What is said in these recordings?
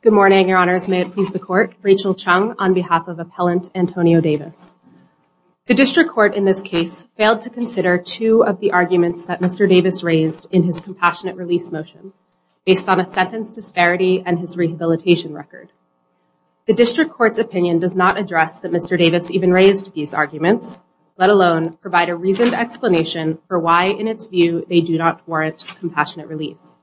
Good morning, your honors. May it please the court. Rachel Chung on behalf of appellant Antonio Davis. The district court in this case failed to consider two of the arguments that Mr. Davis raised in his compassionate release motion based on a sentence disparity and his rehabilitation record. The district court's opinion does not address that Mr. Davis even raised these arguments, let alone provide a reasoned explanation for why in its view they do not warrant compassionate release.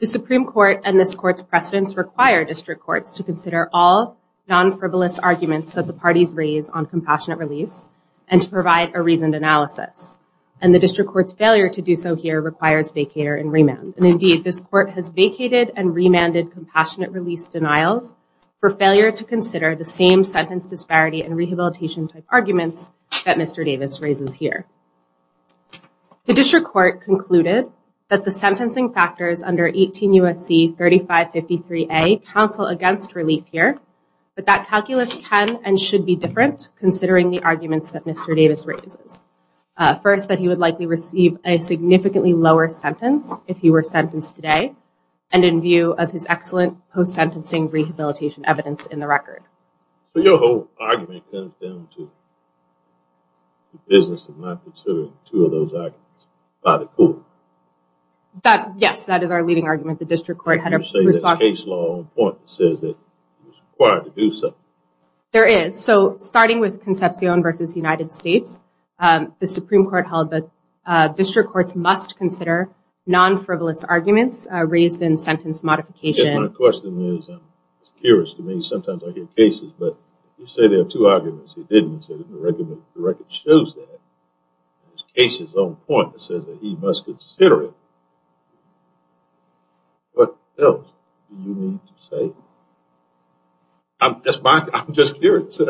The Supreme Court and this court's precedents require district courts to consider all non-frivolous arguments that the parties raise on compassionate release and to provide a reasoned analysis. And the district court's failure to do so here requires vacater and remand. And indeed this court has vacated and remanded compassionate release denials for failure to consider the same sentence disparity and rehabilitation type that Mr. Davis raises here. The district court concluded that the sentencing factors under 18 U.S.C. 3553A counsel against relief here, but that calculus can and should be different considering the arguments that Mr. Davis raises. First, that he would likely receive a significantly lower sentence if he were sentenced today and in view of his excellent post-sentencing rehabilitation evidence in the record. Yes, that is our leading argument. The district court had a case law on point that says that he was required to do so. There is. So starting with Concepcion versus United States, the Supreme Court held that district courts must consider non-frivolous arguments raised in sentence modification. My question is, I'm curious to me, sometimes I hear cases, but you say there are two arguments. He didn't say that the record shows that. His case is on point. It says that he must consider it. What else do you mean to say? I'm just curious.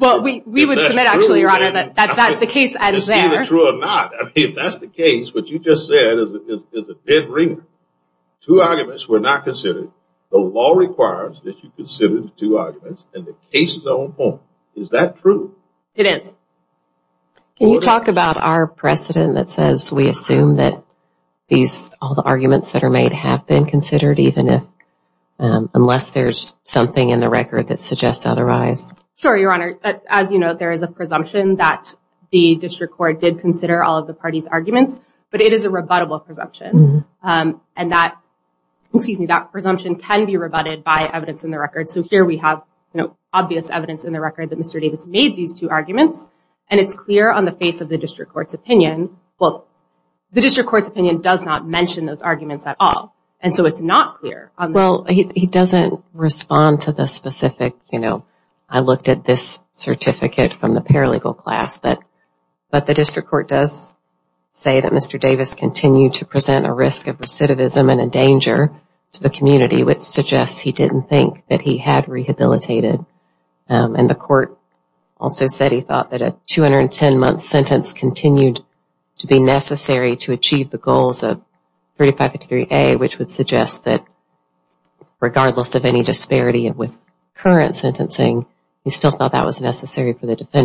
Well, we would submit actually, your honor, that the case ends there. It's either true or not. If that's the case, what you just said is a dead ringer. Two arguments were not considered. The law requires that you consider the two arguments and the case is on point. Is that true? It is. Can you talk about our precedent that says we assume that all the arguments that are made have been considered even if unless there's something in the record that suggests otherwise? Sure, your honor. As you know, there is a presumption that the district court did consider all of the party's That presumption can be rebutted by evidence in the record. So here we have obvious evidence in the record that Mr. Davis made these two arguments and it's clear on the face of the district court's opinion. Well, the district court's opinion does not mention those arguments at all and so it's not clear. Well, he doesn't respond to the specific, you know, I looked at this certificate from the paralegal class, but the district court does say that Mr. Davis continued to present a risk of recidivism and a danger to the community which suggests he didn't think that he had rehabilitated and the court also said he thought that a 210 month sentence continued to be necessary to achieve the goals of 3553A which would suggest that regardless of any disparity with current sentencing, he still thought that was necessary for the your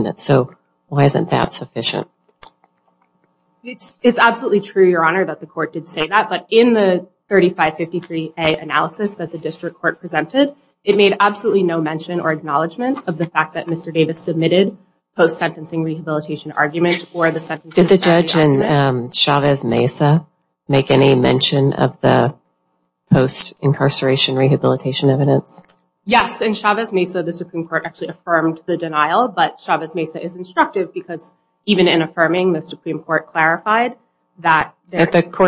honor that the court did say that but in the 3553A analysis that the district court presented, it made absolutely no mention or acknowledgement of the fact that Mr. Davis submitted post-sentencing rehabilitation argument or the sentence. Did the judge in Chavez Mesa make any mention of the post incarceration rehabilitation evidence? Yes, in Chavez Mesa the Supreme Court actually affirmed the denial but Chavez Mesa is instructive because even in the court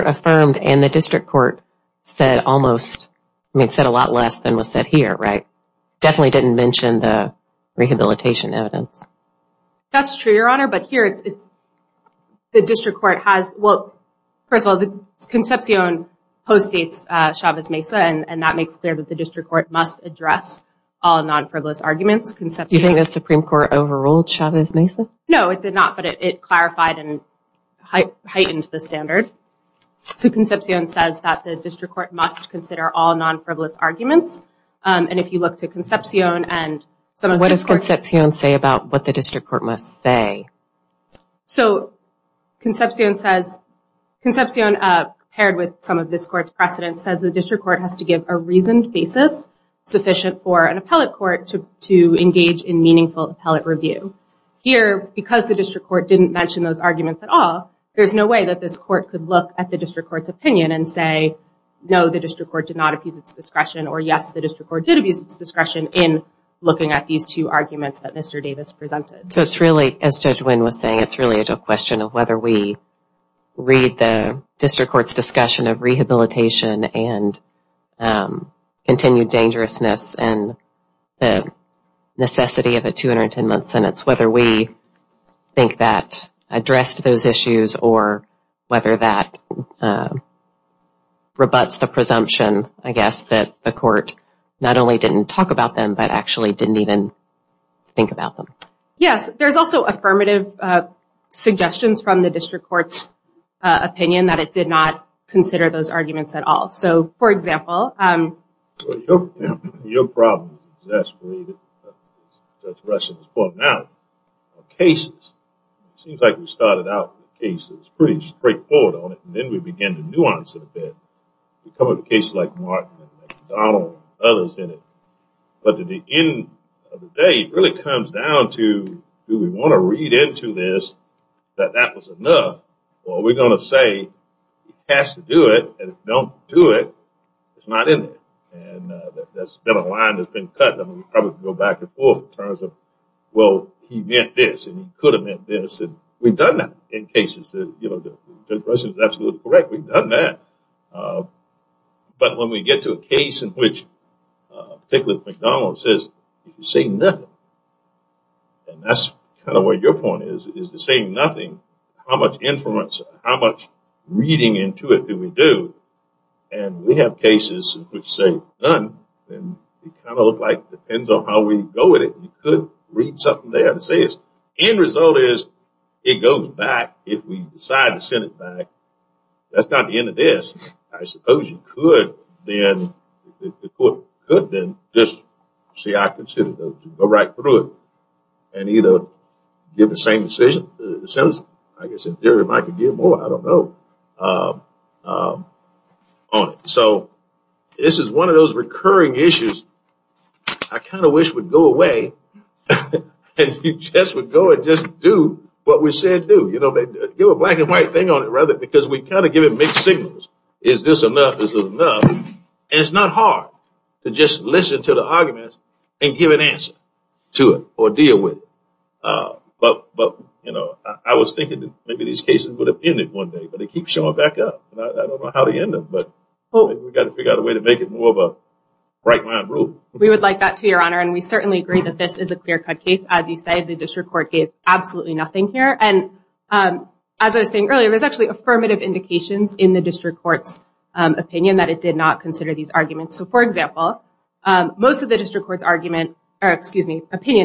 affirmed and the district court said almost, it said a lot less than was said here, right? Definitely didn't mention the rehabilitation evidence. That's true, your honor, but here it's the district court has, well, first of all, the Concepcion postdates Chavez Mesa and that makes clear that the district court must address all non-frivolous arguments. Do you think the Supreme Court overruled Chavez Mesa? No, it did not, but it clarified and heightened the standard. So Concepcion says that the district court must consider all non-frivolous arguments and if you look to Concepcion and some of What does Concepcion say about what the district court must say? So Concepcion says, Concepcion paired with some of this court's precedents says the district court has to give a reasoned basis sufficient for an appellate court to engage in meaningful appellate review. Here, because the district court didn't mention those arguments at all, there's no way that this court could look at the district court's opinion and say, no, the district court did not abuse its discretion or yes, the district court did abuse its discretion in looking at these two arguments that Mr. Davis presented. So it's really, as Judge Wynn was saying, it's really a question of whether we read the district court's discussion of rehabilitation and continued dangerousness and the necessity of a 210-month sentence, whether we think that addressed those issues or whether that rebuts the presumption, I guess, that the court not only didn't talk about them but actually didn't even think about them. Yes, there's also affirmative suggestions from the district court's opinion that it did not cases. It seems like we started out with cases, pretty straightforward on it, and then we began to nuance it a bit. We covered cases like Martin and McDonnell and others in it. But at the end of the day, it really comes down to, do we want to read into this that that was enough or are we going to say it has to do it and if it don't do it, it's not in there. And that's been a line that's been cut and we probably can go back and forth in terms of well, he meant this and he could have meant this and we've done that in cases. The question is absolutely correct, we've done that. But when we get to a case in which particularly McDonnell says, you say nothing, and that's kind of where your point is, is to say nothing, how much inference, how much reading into it do we do? And we have cases which say none, and it kind of looks like it depends on how we go with it. You could read something they have to say. The end result is it goes back if we decide to send it back. That's not the end of this. I suppose you could then, the court could then just say, I consider those two, go right through it and either give the same decision, the sentence, like I said, or if I could give more, I don't know, on it. So this is one of those recurring issues I kind of wish would go away and you just would go and just do what we said do. You know, give a black and white thing on it rather because we kind of give it mixed signals. Is this enough? Is this enough? And it's not hard to just listen to the arguments and give an answer to it or deal with it. But, you know, I was thinking that maybe these cases would have ended one day, but they keep showing back up. I don't know how to end them, but we've got to figure out a way to make it more of a right-minded rule. We would like that to your honor, and we certainly agree that this is a clear-cut case. As you say, the district court gave absolutely nothing here. And as I was saying earlier, there's actually affirmative indications in the district court's opinion that it did not consider these arguments. So, for example, most of the district court's opinion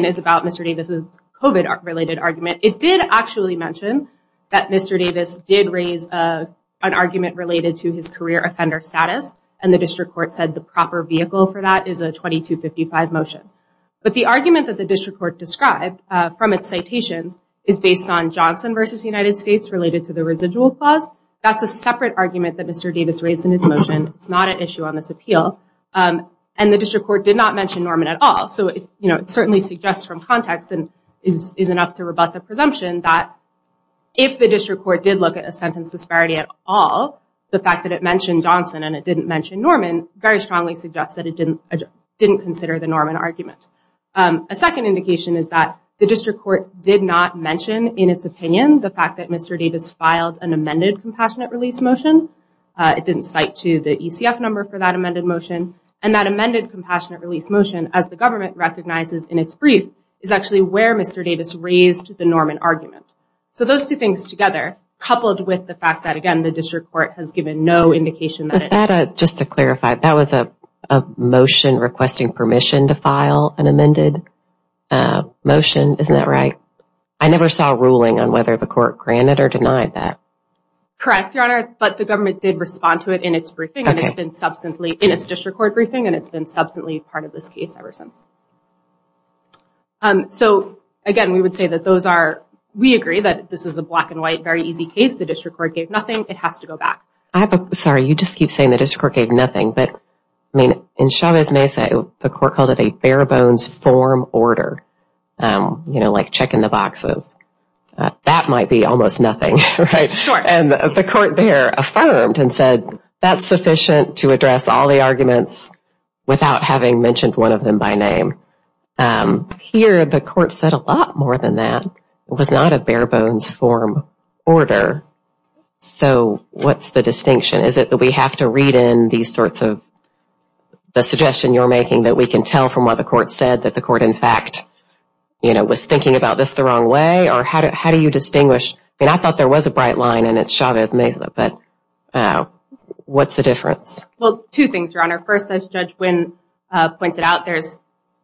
is about Mr. Davis's COVID-related argument. It did actually mention that Mr. Davis did raise an argument related to his career offender status. And the district court said the proper vehicle for that is a 2255 motion. But the argument that the district court described from its citations is based on Johnson versus United States related to the residual clause. That's a separate argument that Mr. Davis raised in his motion. It's not an issue on this appeal. And the district court did not mention Norman at all. So, you know, it certainly suggests from context and is enough to rebut the presumption that if the district court did look at a sentence disparity at all, the fact that it mentioned Johnson and it didn't mention Norman very strongly suggests that it didn't consider the Norman argument. A second indication is that the district court did not mention in its opinion the fact that Mr. Davis filed an amended compassionate release motion. It didn't cite to the ECF number for that amended motion. And that amended compassionate release motion, as the government recognizes in its brief, is actually where Mr. Davis raised the Norman argument. So, those two things together, coupled with the fact that, again, the district court has given no indication. Just to clarify, that was a motion requesting permission to file an amended motion. Isn't that right? I never saw a ruling on whether the court granted or denied that. Correct, Your Honor. But the government did respond to it in its briefing and it's been substantially in its district court briefing. And it's been substantially part of this case ever since. So, again, we would say that those are we agree that this is a black and white, very easy case. The district court gave nothing. It has to go back. Sorry, you just keep saying the district court gave nothing. But, I mean, in Chavez Mesa, the court called it a bare bones form order, you know, like check in the boxes. That might be almost nothing, right? Sure. And the court there affirmed and said that's sufficient to address all the arguments without having mentioned one of them by name. Here, the court said a lot more than that. It was not a bare bones form order. So what's the distinction? Is it that we have to read in these sorts of the suggestion you're making that we can tell from what the court said that the court, in fact, you know, was thinking about this the wrong way? Or how do you distinguish? I mean, I thought there was a bright line and it's Chavez Mesa, but what's the difference? Well, two things, Your Honor. First, as Judge Wynn pointed out, there's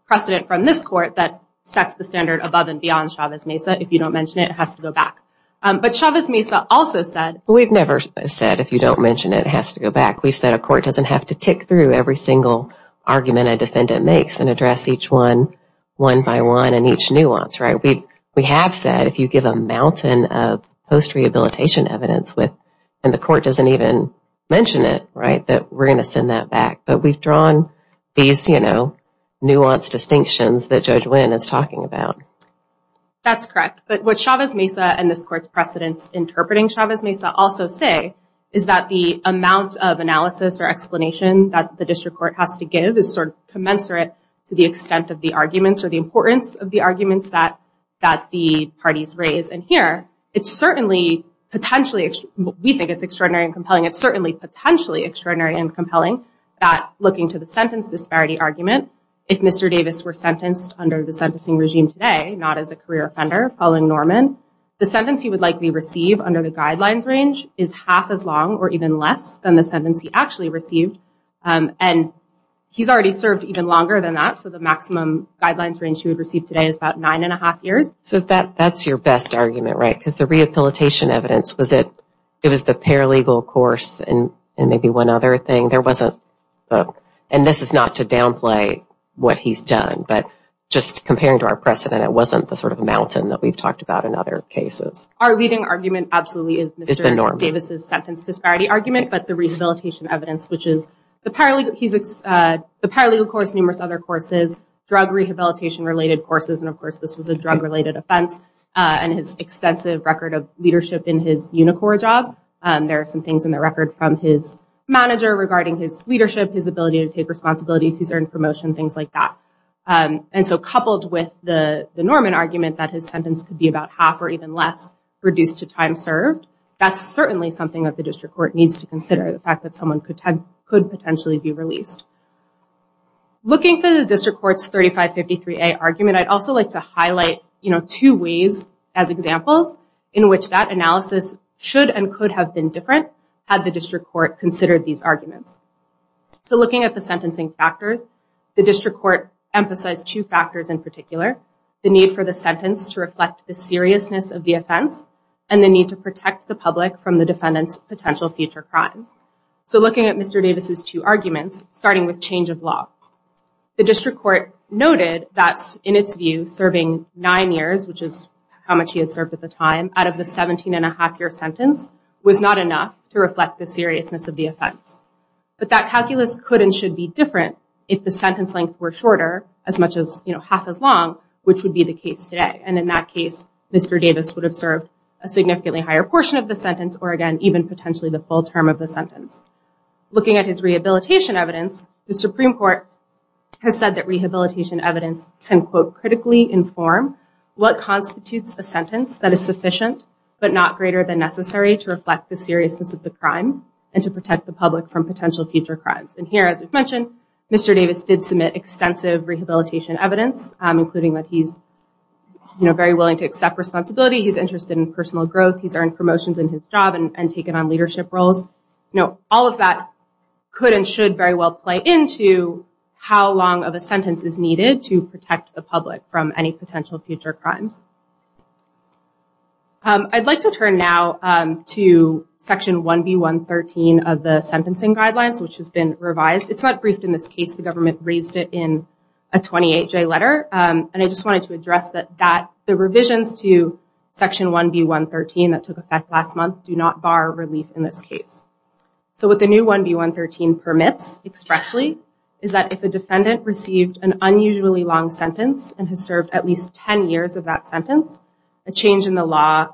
precedent from this court that sets the standard above and beyond Chavez Mesa. If you don't mention it, it has to go back. But Chavez Mesa also said... We've never said if you don't mention it, it has to go back. We've said a court doesn't have to tick through every single argument a defendant makes and address each one one by one and each nuance, right? We have said if you give a mountain of post-rehabilitation evidence and the court doesn't even mention it, right, that we're going to send that back. But we've drawn these, you know, nuanced distinctions that Judge Wynn is talking about. That's correct. But what Chavez Mesa and this court's precedents interpreting Chavez Mesa also say is that the amount of analysis or explanation that the district court has to give is sort of commensurate to the extent of the arguments or the importance of the arguments that that the parties raise. And here, it's certainly potentially... We think it's extraordinary and compelling. It's certainly potentially extraordinary and compelling that looking to the sentence disparity argument, if Mr. Davis were sentenced under the sentencing regime today, not as a career offender following Norman, the sentence he would likely receive under the guidelines range is half as long or even less than the sentence he actually received. And he's already served even longer than that. So the maximum guidelines range he would receive today is about nine and a half years. So that's your best argument, right? Because the rehabilitation evidence, was it... It was the paralegal course and maybe one other thing. There wasn't... And this is not to downplay what he's done, but just comparing to our precedent, it wasn't the sort of mountain that we've talked about in other cases. Our leading argument absolutely is Mr. Davis' sentence disparity argument, but the rehabilitation evidence, which is the paralegal course, numerous other courses, drug rehabilitation related courses. And of course, this was a drug related offense and his extensive record of leadership in his Unicor job. There are some things in the record from his manager regarding his leadership, his ability to take responsibilities, his earned promotion, things like that. And so coupled with the Norman argument that his sentence could be about half or even less reduced to time served, that's certainly something that the district court needs to consider. The fact that someone could potentially be released. Looking for the district court's 3553A argument, I'd also like to highlight two ways as examples in which that analysis should and could have been different had the district court considered these arguments. So looking at the sentencing factors, the district court emphasized two factors in particular, the need for the sentence to reflect the seriousness of the offense and the need to protect the public from the defendant's potential future crimes. So looking at Mr. Davis' two arguments, starting with change of law, the district court noted that in its view, serving nine years, which is how much he had served at the time out of the 17 and a half year sentence was not enough to reflect the seriousness of the offense. But that calculus could and should be different if the sentence length were shorter as much as half as long, which would be the case today. And in that case, Mr. Davis would have served a significantly higher portion of the sentence or again, even potentially the full term of the sentence. Looking at his rehabilitation evidence, the Supreme Court has said that rehabilitation evidence can, quote, critically inform what constitutes a sentence that is sufficient but not greater than necessary to reflect the seriousness of the crime and to protect the public from potential future crimes. And here, as we've mentioned, Mr. Davis did submit extensive rehabilitation evidence, including that he's very willing to accept responsibility, he's interested in personal growth, he's earned promotions in his job and taken on leadership roles. You know, all of that could and should very well play into how long of a sentence is needed to protect the public from any potential future crimes. I'd like to turn now to Section 1B113 of the Sentencing Guidelines, which has been revised. It's not briefed in this case, the government raised it in a 28-J letter. And I just wanted to address that the revisions to Section 1B113 that took effect last month do not bar relief in this case. So what the new 1B113 permits expressly is that if a defendant received an unusually long sentence and has served at least 10 years of that sentence, a change in the law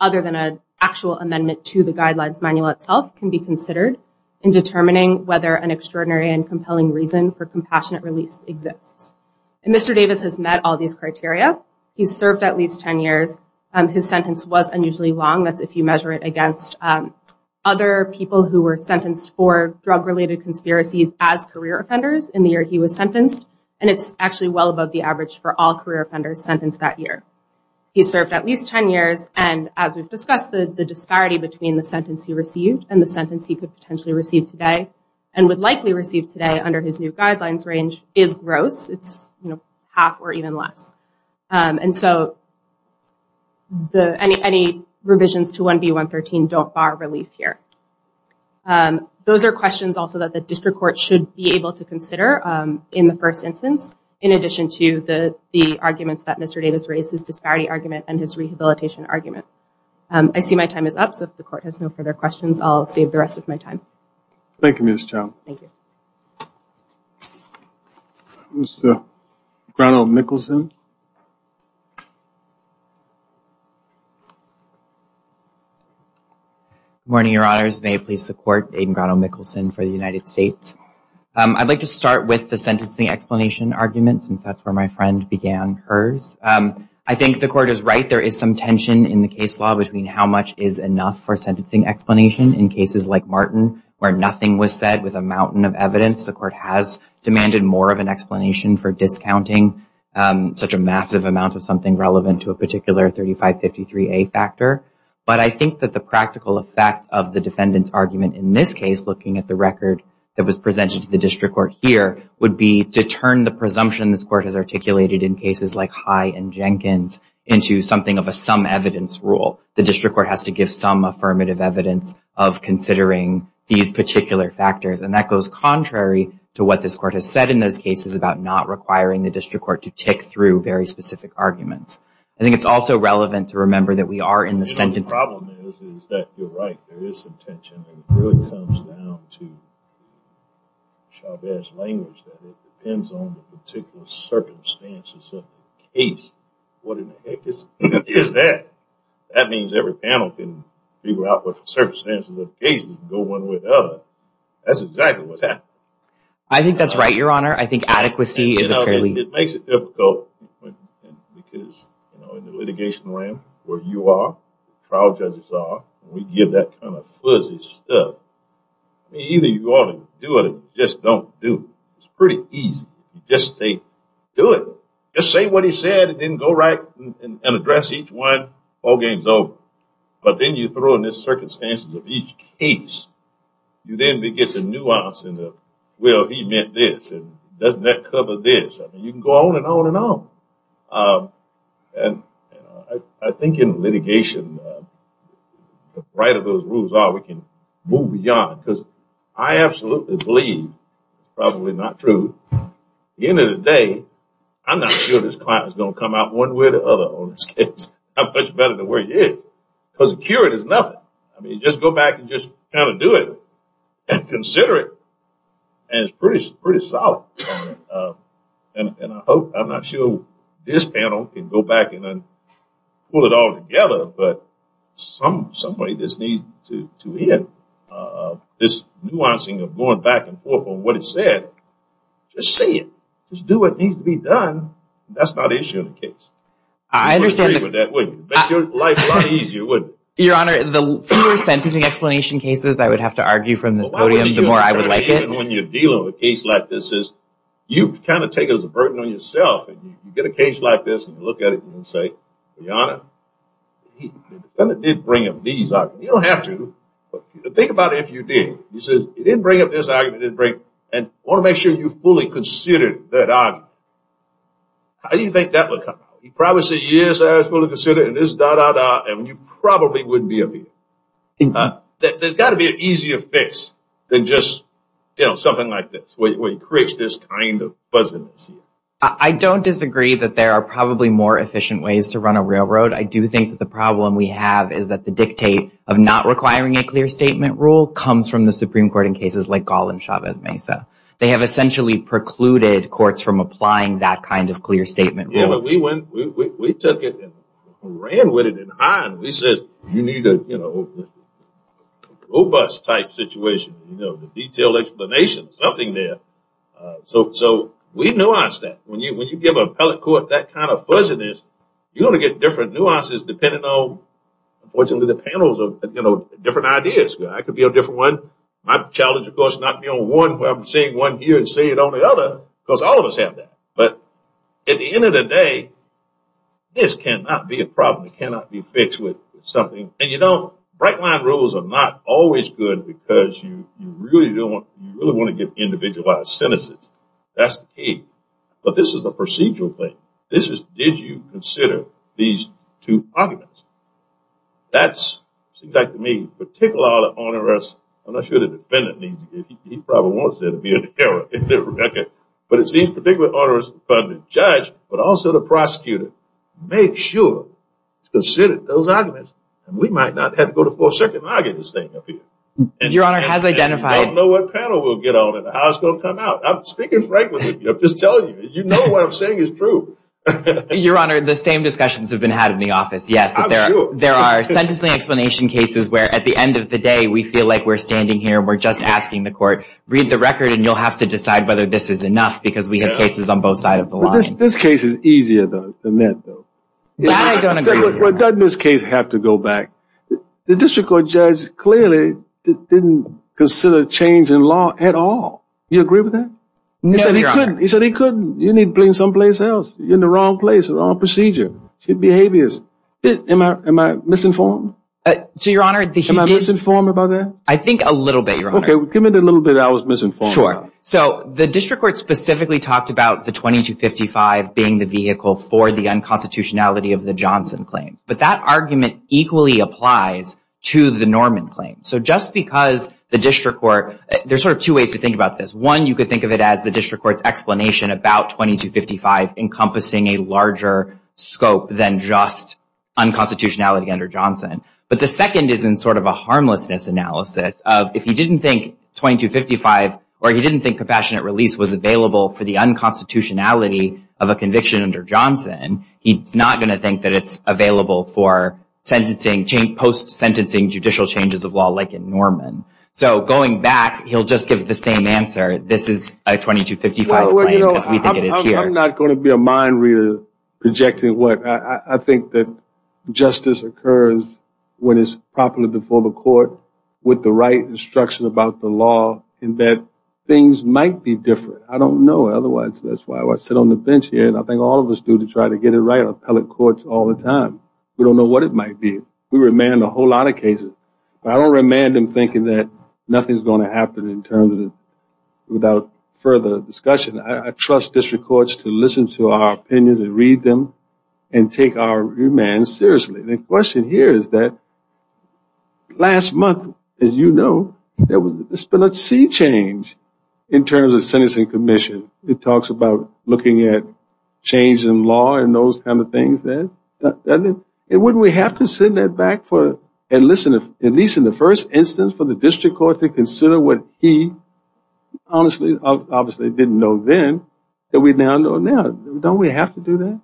other than an actual amendment to the Guidelines Manual itself can be considered in determining whether an extraordinary and compelling reason for compassionate release exists. And Mr. Davis has met all these criteria, he's served at least 10 years, his sentence was unusually long, that's if you measure it against other people who were sentenced for drug-related conspiracies as career offenders in the year he was sentenced, and it's actually well above the average for all career offenders sentenced that year. He served at least 10 years, and as we've discussed, the disparity between the sentence he received and the sentence he could potentially receive today and would likely receive today under his new Guidelines Range is gross, it's half or even less. And so any revisions to 1B113 don't bar relief here. Those are questions also that the district court should be able to consider in the first instance, in addition to the arguments that Mr. Davis raised, his disparity argument and his rehabilitation argument. I see my time is up, so if the court has no further questions, I'll save the rest of my time. Thank you, Ms. Chown. Thank you. Mr. Ronald Nicholson. Good morning, Your Honors. May it please the court, Aidan Ronald Nicholson for the United States. I'd like to start with the sentencing explanation argument, since that's where my friend began hers. I think the court is right, there is some tension in the case law between how much is enough for sentencing explanation in cases like Martin, where nothing was said with a mountain of evidence. The court has demanded more of an explanation for discounting. Such a massive amount of something relevant to a particular 3553A factor. But I think that the practical effect of the defendant's argument in this case, looking at the record that was presented to the district court here, would be to turn the presumption this court has articulated in cases like High and Jenkins into something of a sum evidence rule. The district court has to give some affirmative evidence of considering these particular factors. And that goes contrary to what this court has said in those cases about not requiring the district court to tick through very specific arguments. I think it's also relevant to remember that we are in the sentencing. The problem is that you're right. There is some tension. It really comes down to Chauvet's language that it depends on the particular circumstances of the case. What in the heck is that? That means every panel can figure out what the circumstances of the case is and go one way or the other. That's exactly what's happening. I think that's right, Your Honor. I think adequacy is a fairly... It makes it difficult because, you know, in the litigation realm where you are, trial judges are, we give that kind of fuzzy stuff. Either you ought to do it or just don't do it. It's pretty easy. Just say, do it. Just say what he said and then go right and address each one. All game's over. But then you throw in the circumstances of each case. You then get the nuance and the, well, he meant this. Doesn't that cover this? You can go on and on and on. I think in litigation, the brighter those rules are, we can move beyond. I absolutely believe, probably not true, at the end of the day, I'm not sure this client is going to come out one way or the other on this case. I'm much better than where he is because the cure is nothing. I mean, just go back and just kind of do it and consider it. And it's pretty solid. And I hope, I'm not sure this panel can go back and pull it all together, but some way this needs to end. This nuancing of going back and forth on what he said, just say it. Just do what needs to be done. That's not the issue of the case. You wouldn't agree with that, would you? It would make your life a lot easier, wouldn't it? Your Honor, the fewer sentencing explanation cases I would have to argue from this podium, the more I would like it. Even when you're dealing with a case like this, you kind of take it as a burden on yourself. You get a case like this and you look at it and you say, Your Honor, he kind of did bring up these arguments. You don't have to. But think about it if you did. You said he didn't bring up this argument. I want to make sure you fully considered that argument. How do you think that would come out? He probably said, Yes, I was going to consider it, and this, da, da, da. And you probably wouldn't be able to. There's got to be an easier fix than just, you know, something like this where he creates this kind of fuzziness. I don't disagree that there are probably more efficient ways to run a railroad. I do think that the problem we have is that the dictate of not requiring a clear statement rule comes from the Supreme Court in cases like Gall and Chavez-Mesa. They have essentially precluded courts from applying that kind of clear statement rule. Yeah, but we took it and ran with it. We said you need a robust type situation, you know, the detailed explanation, something there. So we nuanced that. When you give an appellate court that kind of fuzziness, you're going to get different nuances depending on, unfortunately, the panels of different ideas. I could be a different one. My challenge, of course, is not to be on one where I'm seeing one here and seeing it on the other because all of us have that. But at the end of the day, this cannot be a problem. It cannot be fixed with something. And, you know, bright-line rules are not always good because you really want to get individualized sentences. That's the key. But this is a procedural thing. This is did you consider these two arguments. That's, it seems like to me, particularly onerous. I'm not sure the defendant needs it. He probably wants there to be an error in the record. But it seems particularly onerous for the judge but also the prosecutor. Make sure to consider those arguments. And we might not have to go to full circuit and argue this thing up here. Your Honor, it has identified. I don't know what panel we'll get on and how it's going to come out. I'm speaking frankly. I'm just telling you. You know what I'm saying is true. Your Honor, the same discussions have been had in the office, yes. I'm sure. There are sentencing explanation cases where at the end of the day we feel like we're standing here and we're just asking the court, read the record, and you'll have to decide whether this is enough because we have cases on both sides of the line. This case is easier than that, though. I don't agree with you. Doesn't this case have to go back? The district court judge clearly didn't consider change in law at all. Do you agree with that? No, Your Honor. He said he couldn't. He said he couldn't. You need to bring it someplace else. You're in the wrong place, the wrong procedure. Am I misinformed? Am I misinformed about that? I think a little bit, Your Honor. Okay, give me the little bit I was misinformed about. Sure. So the district court specifically talked about the 2255 being the vehicle for the unconstitutionality of the Johnson claim. But that argument equally applies to the Norman claim. So just because the district court – there's sort of two ways to think about this. One, you could think of it as the district court's explanation about 2255 encompassing a larger scope than just unconstitutionality under Johnson. But the second is in sort of a harmlessness analysis of if he didn't think 2255 or he didn't think compassionate release was available for the unconstitutionality of a conviction under Johnson, he's not going to think that it's available for post-sentencing judicial changes of law like in Norman. So going back, he'll just give the same answer. This is a 2255 claim because we think it is here. I'm not going to be a mind reader projecting what – I think that justice occurs when it's properly before the court with the right instruction about the law and that things might be different. I don't know. Otherwise, that's why I sit on the bench here and I think all of us do to try to get it right in appellate courts all the time. We don't know what it might be. We remand a whole lot of cases. I don't remand them thinking that nothing is going to happen in terms of without further discussion. I trust district courts to listen to our opinions and read them and take our remand seriously. The question here is that last month, as you know, there was a split C change in terms of sentencing commission. It talks about looking at change in law and those kind of things. Wouldn't we have to send that back for – at least in the first instance for the district court to consider what he obviously didn't know then that we now know now? Don't we have to do that?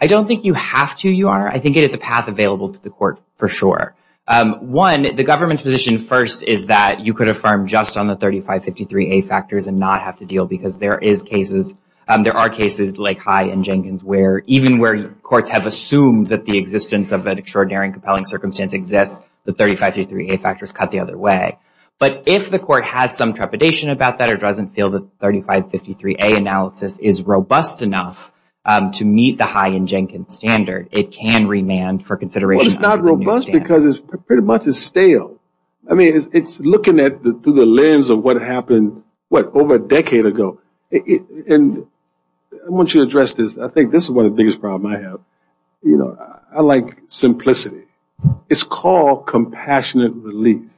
I don't think you have to, Your Honor. I think it is a path available to the court for sure. One, the government's position first is that you could affirm just on the 3553A factors and not have to deal because there are cases like High and Jenkins where even where courts have assumed that the existence of an extraordinary and compelling circumstance exists, the 3553A factors cut the other way. But if the court has some trepidation about that or doesn't feel that 3553A analysis is robust enough to meet the High and Jenkins standard, it can remand for consideration. Well, it's not robust because it pretty much is stale. It's looking through the lens of what happened over a decade ago. I want you to address this. I think this is one of the biggest problems I have. I like simplicity. It's called compassionate relief.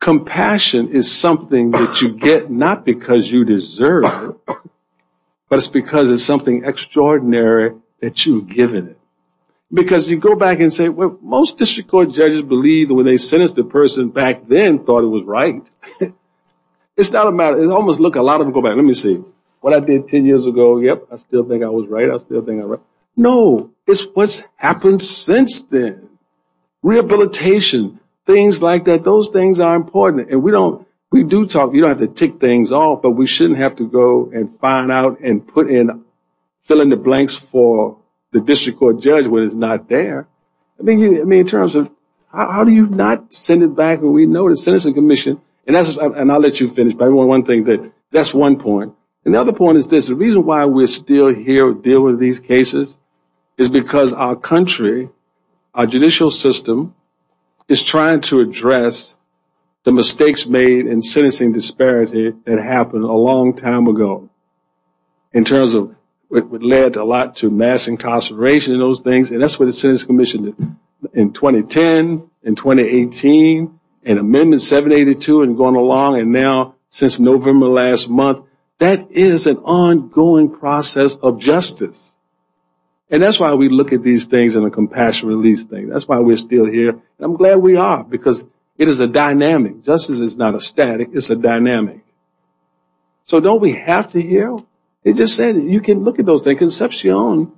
Compassion is something that you get not because you deserve it, but it's because it's something extraordinary that you've given it. Because you go back and say, well, most district court judges believe that when they sentenced the person back then, they thought it was right. It's not a matter. It almost looks like a lot of them go back. Let me see. What I did ten years ago, yep, I still think I was right. I still think I was right. No, it's what's happened since then. Rehabilitation, things like that, those things are important. And we do talk. You don't have to tick things off, but we shouldn't have to go and find out and fill in the blanks for the district court judge when it's not there. I mean, in terms of how do you not send it back when we know the Sentencing Commission, and I'll let you finish, but that's one point. And the other point is this. The reason why we're still here dealing with these cases is because our country, our judicial system, is trying to address the mistakes made in sentencing disparity that happened a long time ago. In terms of what led a lot to mass incarceration and those things, and that's what the Sentencing Commission did in 2010, in 2018, and Amendment 782 and going along, and now since November of last month. That is an ongoing process of justice. And that's why we look at these things in a compassionate release thing. That's why we're still here, and I'm glad we are because it is a dynamic. Justice is not a static. It's a dynamic. So don't we have to heal? You can look at those things. Concepcion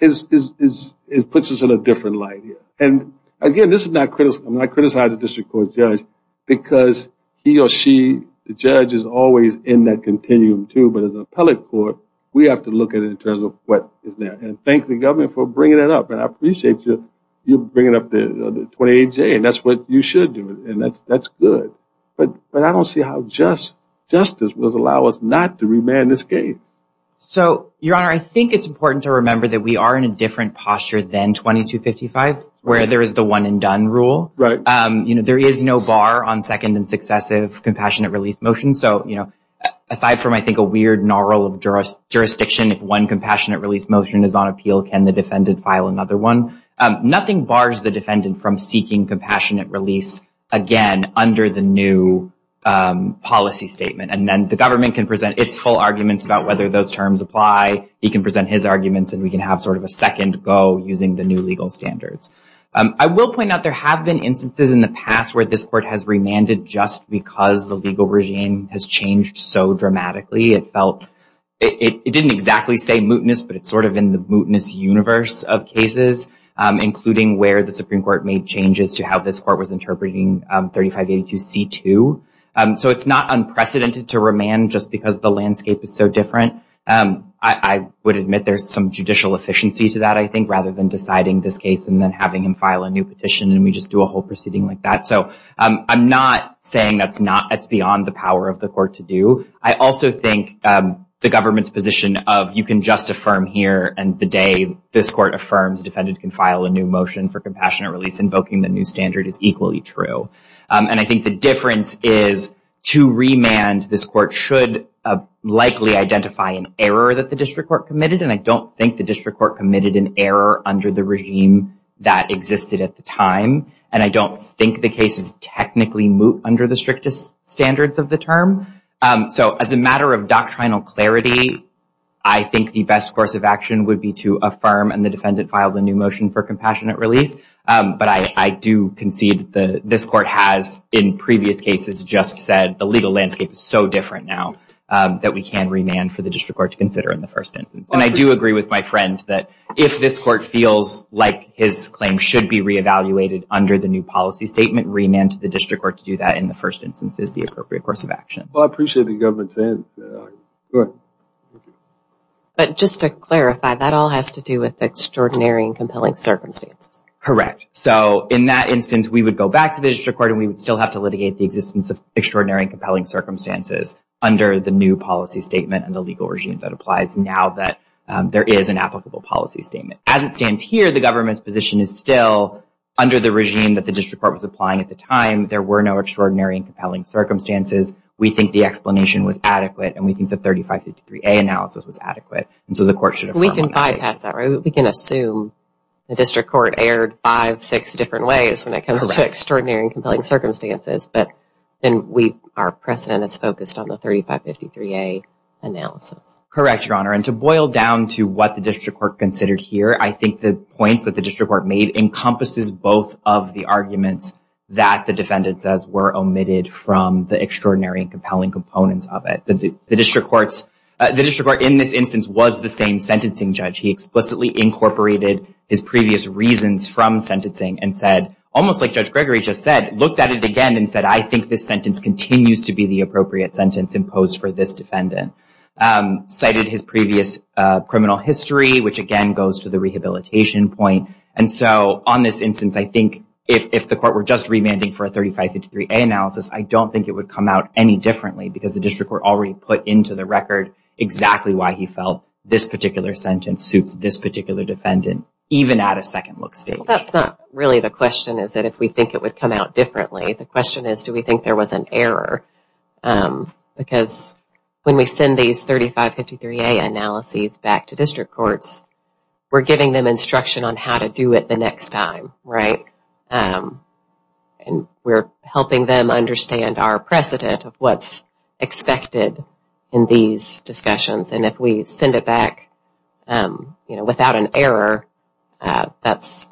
puts us in a different light here. And, again, I'm not criticizing the district court judge because he or she, the judge, is always in that continuum too, but as an appellate court, we have to look at it in terms of what is there. And thank the government for bringing it up, and I appreciate you bringing up the 28J, and that's what you should do, and that's good. But I don't see how justice will allow us not to remand this case. So, Your Honor, I think it's important to remember that we are in a different posture than 2255, where there is the one and done rule. Right. You know, there is no bar on second and successive compassionate release motions. So, you know, aside from I think a weird gnarle of jurisdiction, if one compassionate release motion is on appeal, can the defendant file another one? Nothing bars the defendant from seeking compassionate release, again, under the new policy statement. And then the government can present its full arguments about whether those terms apply. He can present his arguments, and we can have sort of a second go using the new legal standards. I will point out there have been instances in the past where this court has remanded just because the legal regime has changed so dramatically. It didn't exactly say mootness, but it's sort of in the mootness universe of cases, including where the Supreme Court made changes to how this court was interpreting 3582C2. So it's not unprecedented to remand just because the landscape is so different. I would admit there's some judicial efficiency to that, I think, rather than deciding this case and then having him file a new petition and we just do a whole proceeding like that. So I'm not saying that's beyond the power of the court to do. I also think the government's position of you can just affirm here and the day this court affirms, defendant can file a new motion for compassionate release invoking the new standard is equally true. And I think the difference is to remand, this court should likely identify an error that the district court committed. And I don't think the district court committed an error under the regime that existed at the time. And I don't think the case is technically moot under the strictest standards of the term. So as a matter of doctrinal clarity, I think the best course of action would be to affirm and the defendant files a new motion for compassionate release. But I do concede this court has in previous cases just said the legal landscape is so different now that we can remand for the district court to consider in the first instance. And I do agree with my friend that if this court feels like his claim should be re-evaluated under the new policy statement, remand to the district court to do that in the first instance is the appropriate course of action. Well, I appreciate the government saying that. Go ahead. But just to clarify, that all has to do with extraordinary and compelling circumstances. Correct. So in that instance, we would go back to the district court and we would still have to litigate the existence of extraordinary and compelling circumstances under the new policy statement and the legal regime that applies now that there is an applicable policy statement. As it stands here, the government's position is still, under the regime that the district court was applying at the time, there were no extraordinary and compelling circumstances. We think the explanation was adequate and we think the 3553A analysis was adequate. And so the court should affirm on that case. We can bypass that, right? We can assume the district court erred five, six different ways when it comes to extraordinary and compelling circumstances. But then our precedent is focused on the 3553A analysis. Correct, Your Honor. And to boil down to what the district court considered here, I think the points that the district court made encompasses both of the arguments that the defendant says were omitted from the extraordinary and compelling components of it. The district court in this instance was the same sentencing judge. He explicitly incorporated his previous reasons from sentencing and said, almost like Judge Gregory just said, looked at it again and said, I think this sentence continues to be the appropriate sentence imposed for this defendant. Cited his previous criminal history, which again goes to the rehabilitation point. And so on this instance, I think if the court were just remanding for a 3553A analysis, I don't think it would come out any differently because the district court already put into the record exactly why he felt this particular sentence suits this particular defendant, even at a second look stage. That's not really the question, is that if we think it would come out differently. The question is, do we think there was an error? Because when we send these 3553A analyses back to district courts, we're giving them instruction on how to do it the next time, right? And we're helping them understand our precedent of what's expected in these discussions. And if we send it back without an error, that's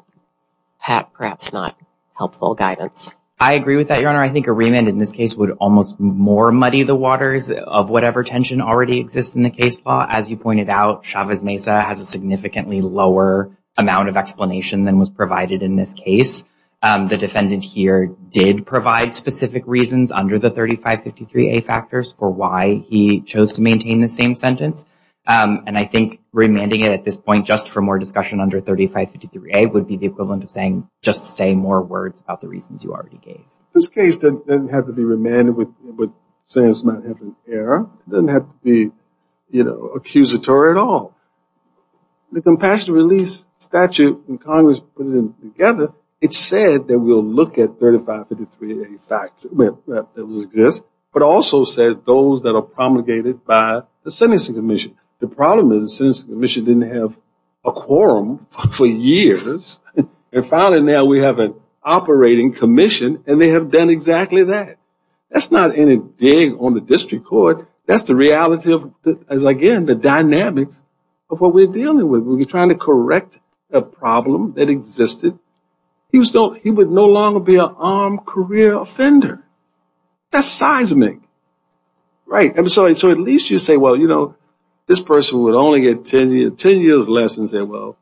perhaps not helpful guidance. I agree with that, Your Honor. I think a remand in this case would almost more muddy the waters of whatever tension already exists in the case law. As you pointed out, Chavez Mesa has a significantly lower amount of explanation than was provided in this case. The defendant here did provide specific reasons under the 3553A factors for why he chose to maintain the same sentence. And I think remanding it at this point just for more discussion under 3553A would be the equivalent of saying, just say more words about the reasons you already gave. This case didn't have to be remanded with saying it's not having an error. It doesn't have to be accusatory at all. The compassionate release statute in Congress put it together. It said that we'll look at 3553A factors that exist, but also said those that are promulgated by the sentencing commission. The problem is the sentencing commission didn't have a quorum for years, and finally now we have an operating commission and they have done exactly that. That's not any dig on the district court. That's the reality of, again, the dynamics of what we're dealing with. We're trying to correct a problem that existed. He would no longer be an armed career offender. That's seismic. So at least you say, well, you know, this person would only get ten years less and say, well,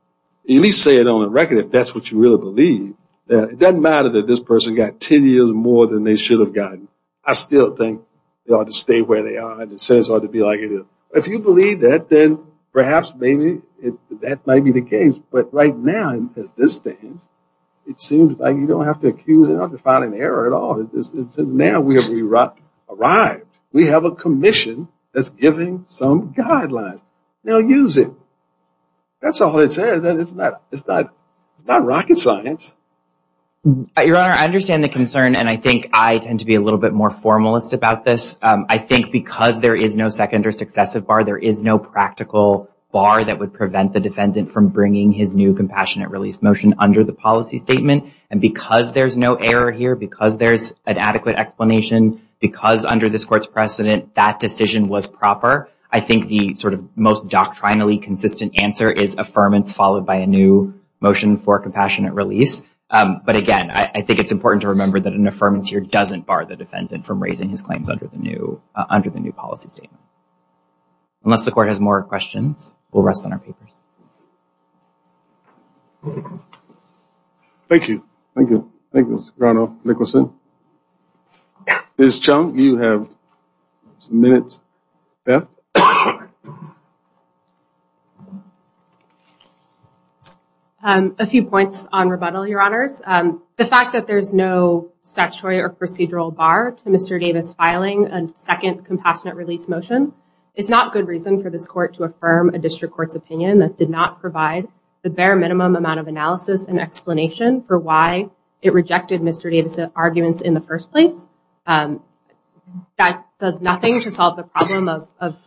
at least say it on the record if that's what you really believe. It doesn't matter that this person got ten years more than they should have gotten. I still think they ought to stay where they are and the sentence ought to be like it is. If you believe that, then perhaps maybe that might be the case. But right now, as this stands, it seems like you don't have to accuse it, you don't have to find an error at all. Now we have arrived. We have a commission that's giving some guidelines. Now use it. That's all it says. It's not rocket science. Your Honor, I understand the concern, and I think I tend to be a little bit more formalist about this. I think because there is no second or successive bar, there is no practical bar that would prevent the defendant from bringing his new compassionate release motion under the policy statement. And because there's no error here, because there's an adequate explanation, because under this court's precedent that decision was proper, I think the sort of most doctrinally consistent answer is affirmance followed by a new motion for compassionate release. But again, I think it's important to remember that an affirmance here doesn't bar the defendant from raising his claims under the new policy statement. Unless the court has more questions, we'll rest on our papers. Thank you. Thank you. Thank you, Mr. Grano-Nicholson. Ms. Chung, you have a minute left. A few points on rebuttal, Your Honors. The fact that there's no statutory or procedural bar to Mr. Davis filing a second compassionate release motion is not good reason for this court to affirm a district court's opinion that did not provide the bare minimum amount of analysis and explanation for why it rejected Mr. Davis's arguments in the first place. That does nothing to solve the problem of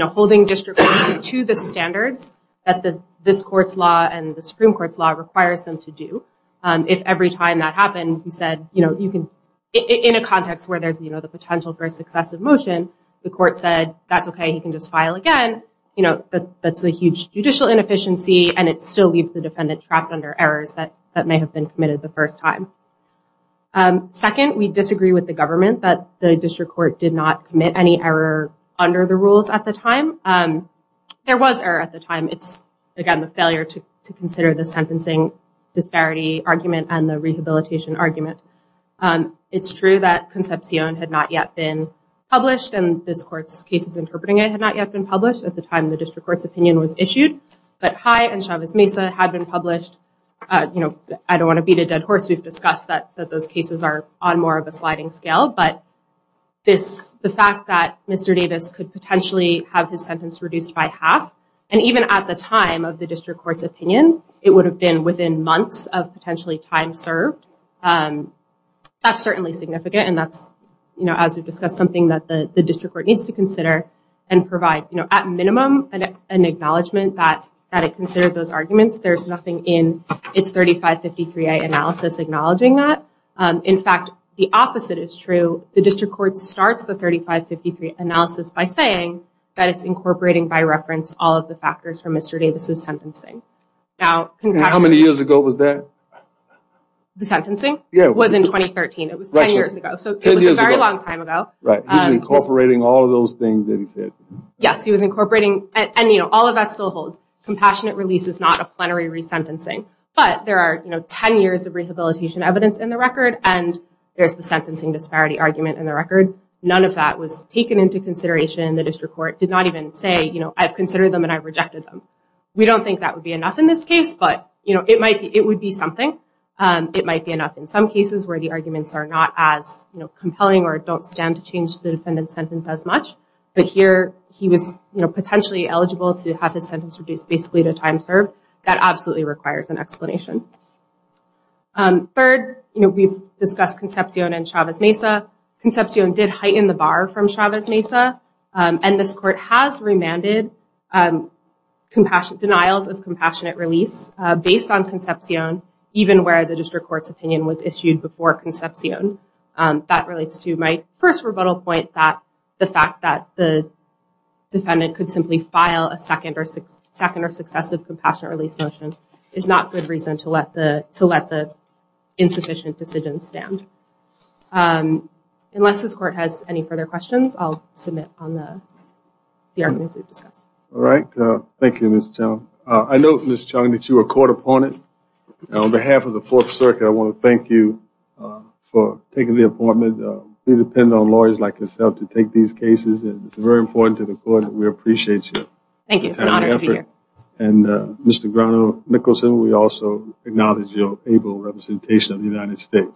holding district courts to the standards that this court's law and the Supreme Court's law requires them to do. If every time that happened, he said, you know, you can – in a context where there's, you know, the potential for a successive motion, the court said, that's okay, he can just file again. You know, that's a huge judicial inefficiency, and it still leaves the defendant trapped under errors that may have been committed the first time. Second, we disagree with the government that the district court did not commit any error under the rules at the time. There was error at the time. It's, again, the failure to consider the sentencing disparity argument and the rehabilitation argument. It's true that Concepcion had not yet been published, and this court's cases interpreting it had not yet been published at the time the district court's opinion was issued. But High and Chavez-Mesa had been published. You know, I don't want to beat a dead horse. We've discussed that those cases are on more of a sliding scale, but this – the fact that Mr. Davis could potentially have his sentence reduced by half, and even at the time of the district court's opinion, it would have been within months of potentially time served, that's certainly significant, and that's, you know, as we've discussed, something that the district court needs to consider and provide, you know, at minimum, an acknowledgement that it considered those arguments. There's nothing in its 3553A analysis acknowledging that. In fact, the opposite is true. The district court starts the 3553 analysis by saying that it's incorporating by reference all of the factors from Mr. Davis' sentencing. Now, Concepcion – And how many years ago was that? The sentencing? Yeah. It was in 2013. It was 10 years ago. So it was a very long time ago. Right. He was incorporating all of those things that he said. Yes, he was incorporating – and, you know, all of that still holds. Compassionate release is not a plenary resentencing, but there are, you know, 10 years of rehabilitation evidence in the record, and there's the sentencing disparity argument in the record. None of that was taken into consideration. The district court did not even say, you know, I've considered them and I've rejected them. We don't think that would be enough in this case, but, you know, it might be – it would be something. It might be enough in some cases where the arguments are not as, you know, changed the defendant's sentence as much, but here he was, you know, potentially eligible to have his sentence reduced basically to time served. That absolutely requires an explanation. Third, you know, we've discussed Concepcion and Chavez-Mesa. Concepcion did heighten the bar from Chavez-Mesa, and this court has remanded denials of compassionate release based on Concepcion, even where the district court's opinion was issued before Concepcion. That relates to my first rebuttal point that the fact that the defendant could simply file a second or successive compassionate release motion is not good reason to let the insufficient decision stand. Unless this court has any further questions, I'll submit on the arguments we've discussed. All right. Thank you, Ms. Chung. I know, Ms. Chung, that you were caught upon it. On behalf of the Fourth Circuit, I want to thank you for taking the appointment. We depend on lawyers like yourself to take these cases, and it's very important to the court that we appreciate you. Thank you. It's an honor to be here. And, Mr. Grano-Nicholson, we also acknowledge your able representation of the United States.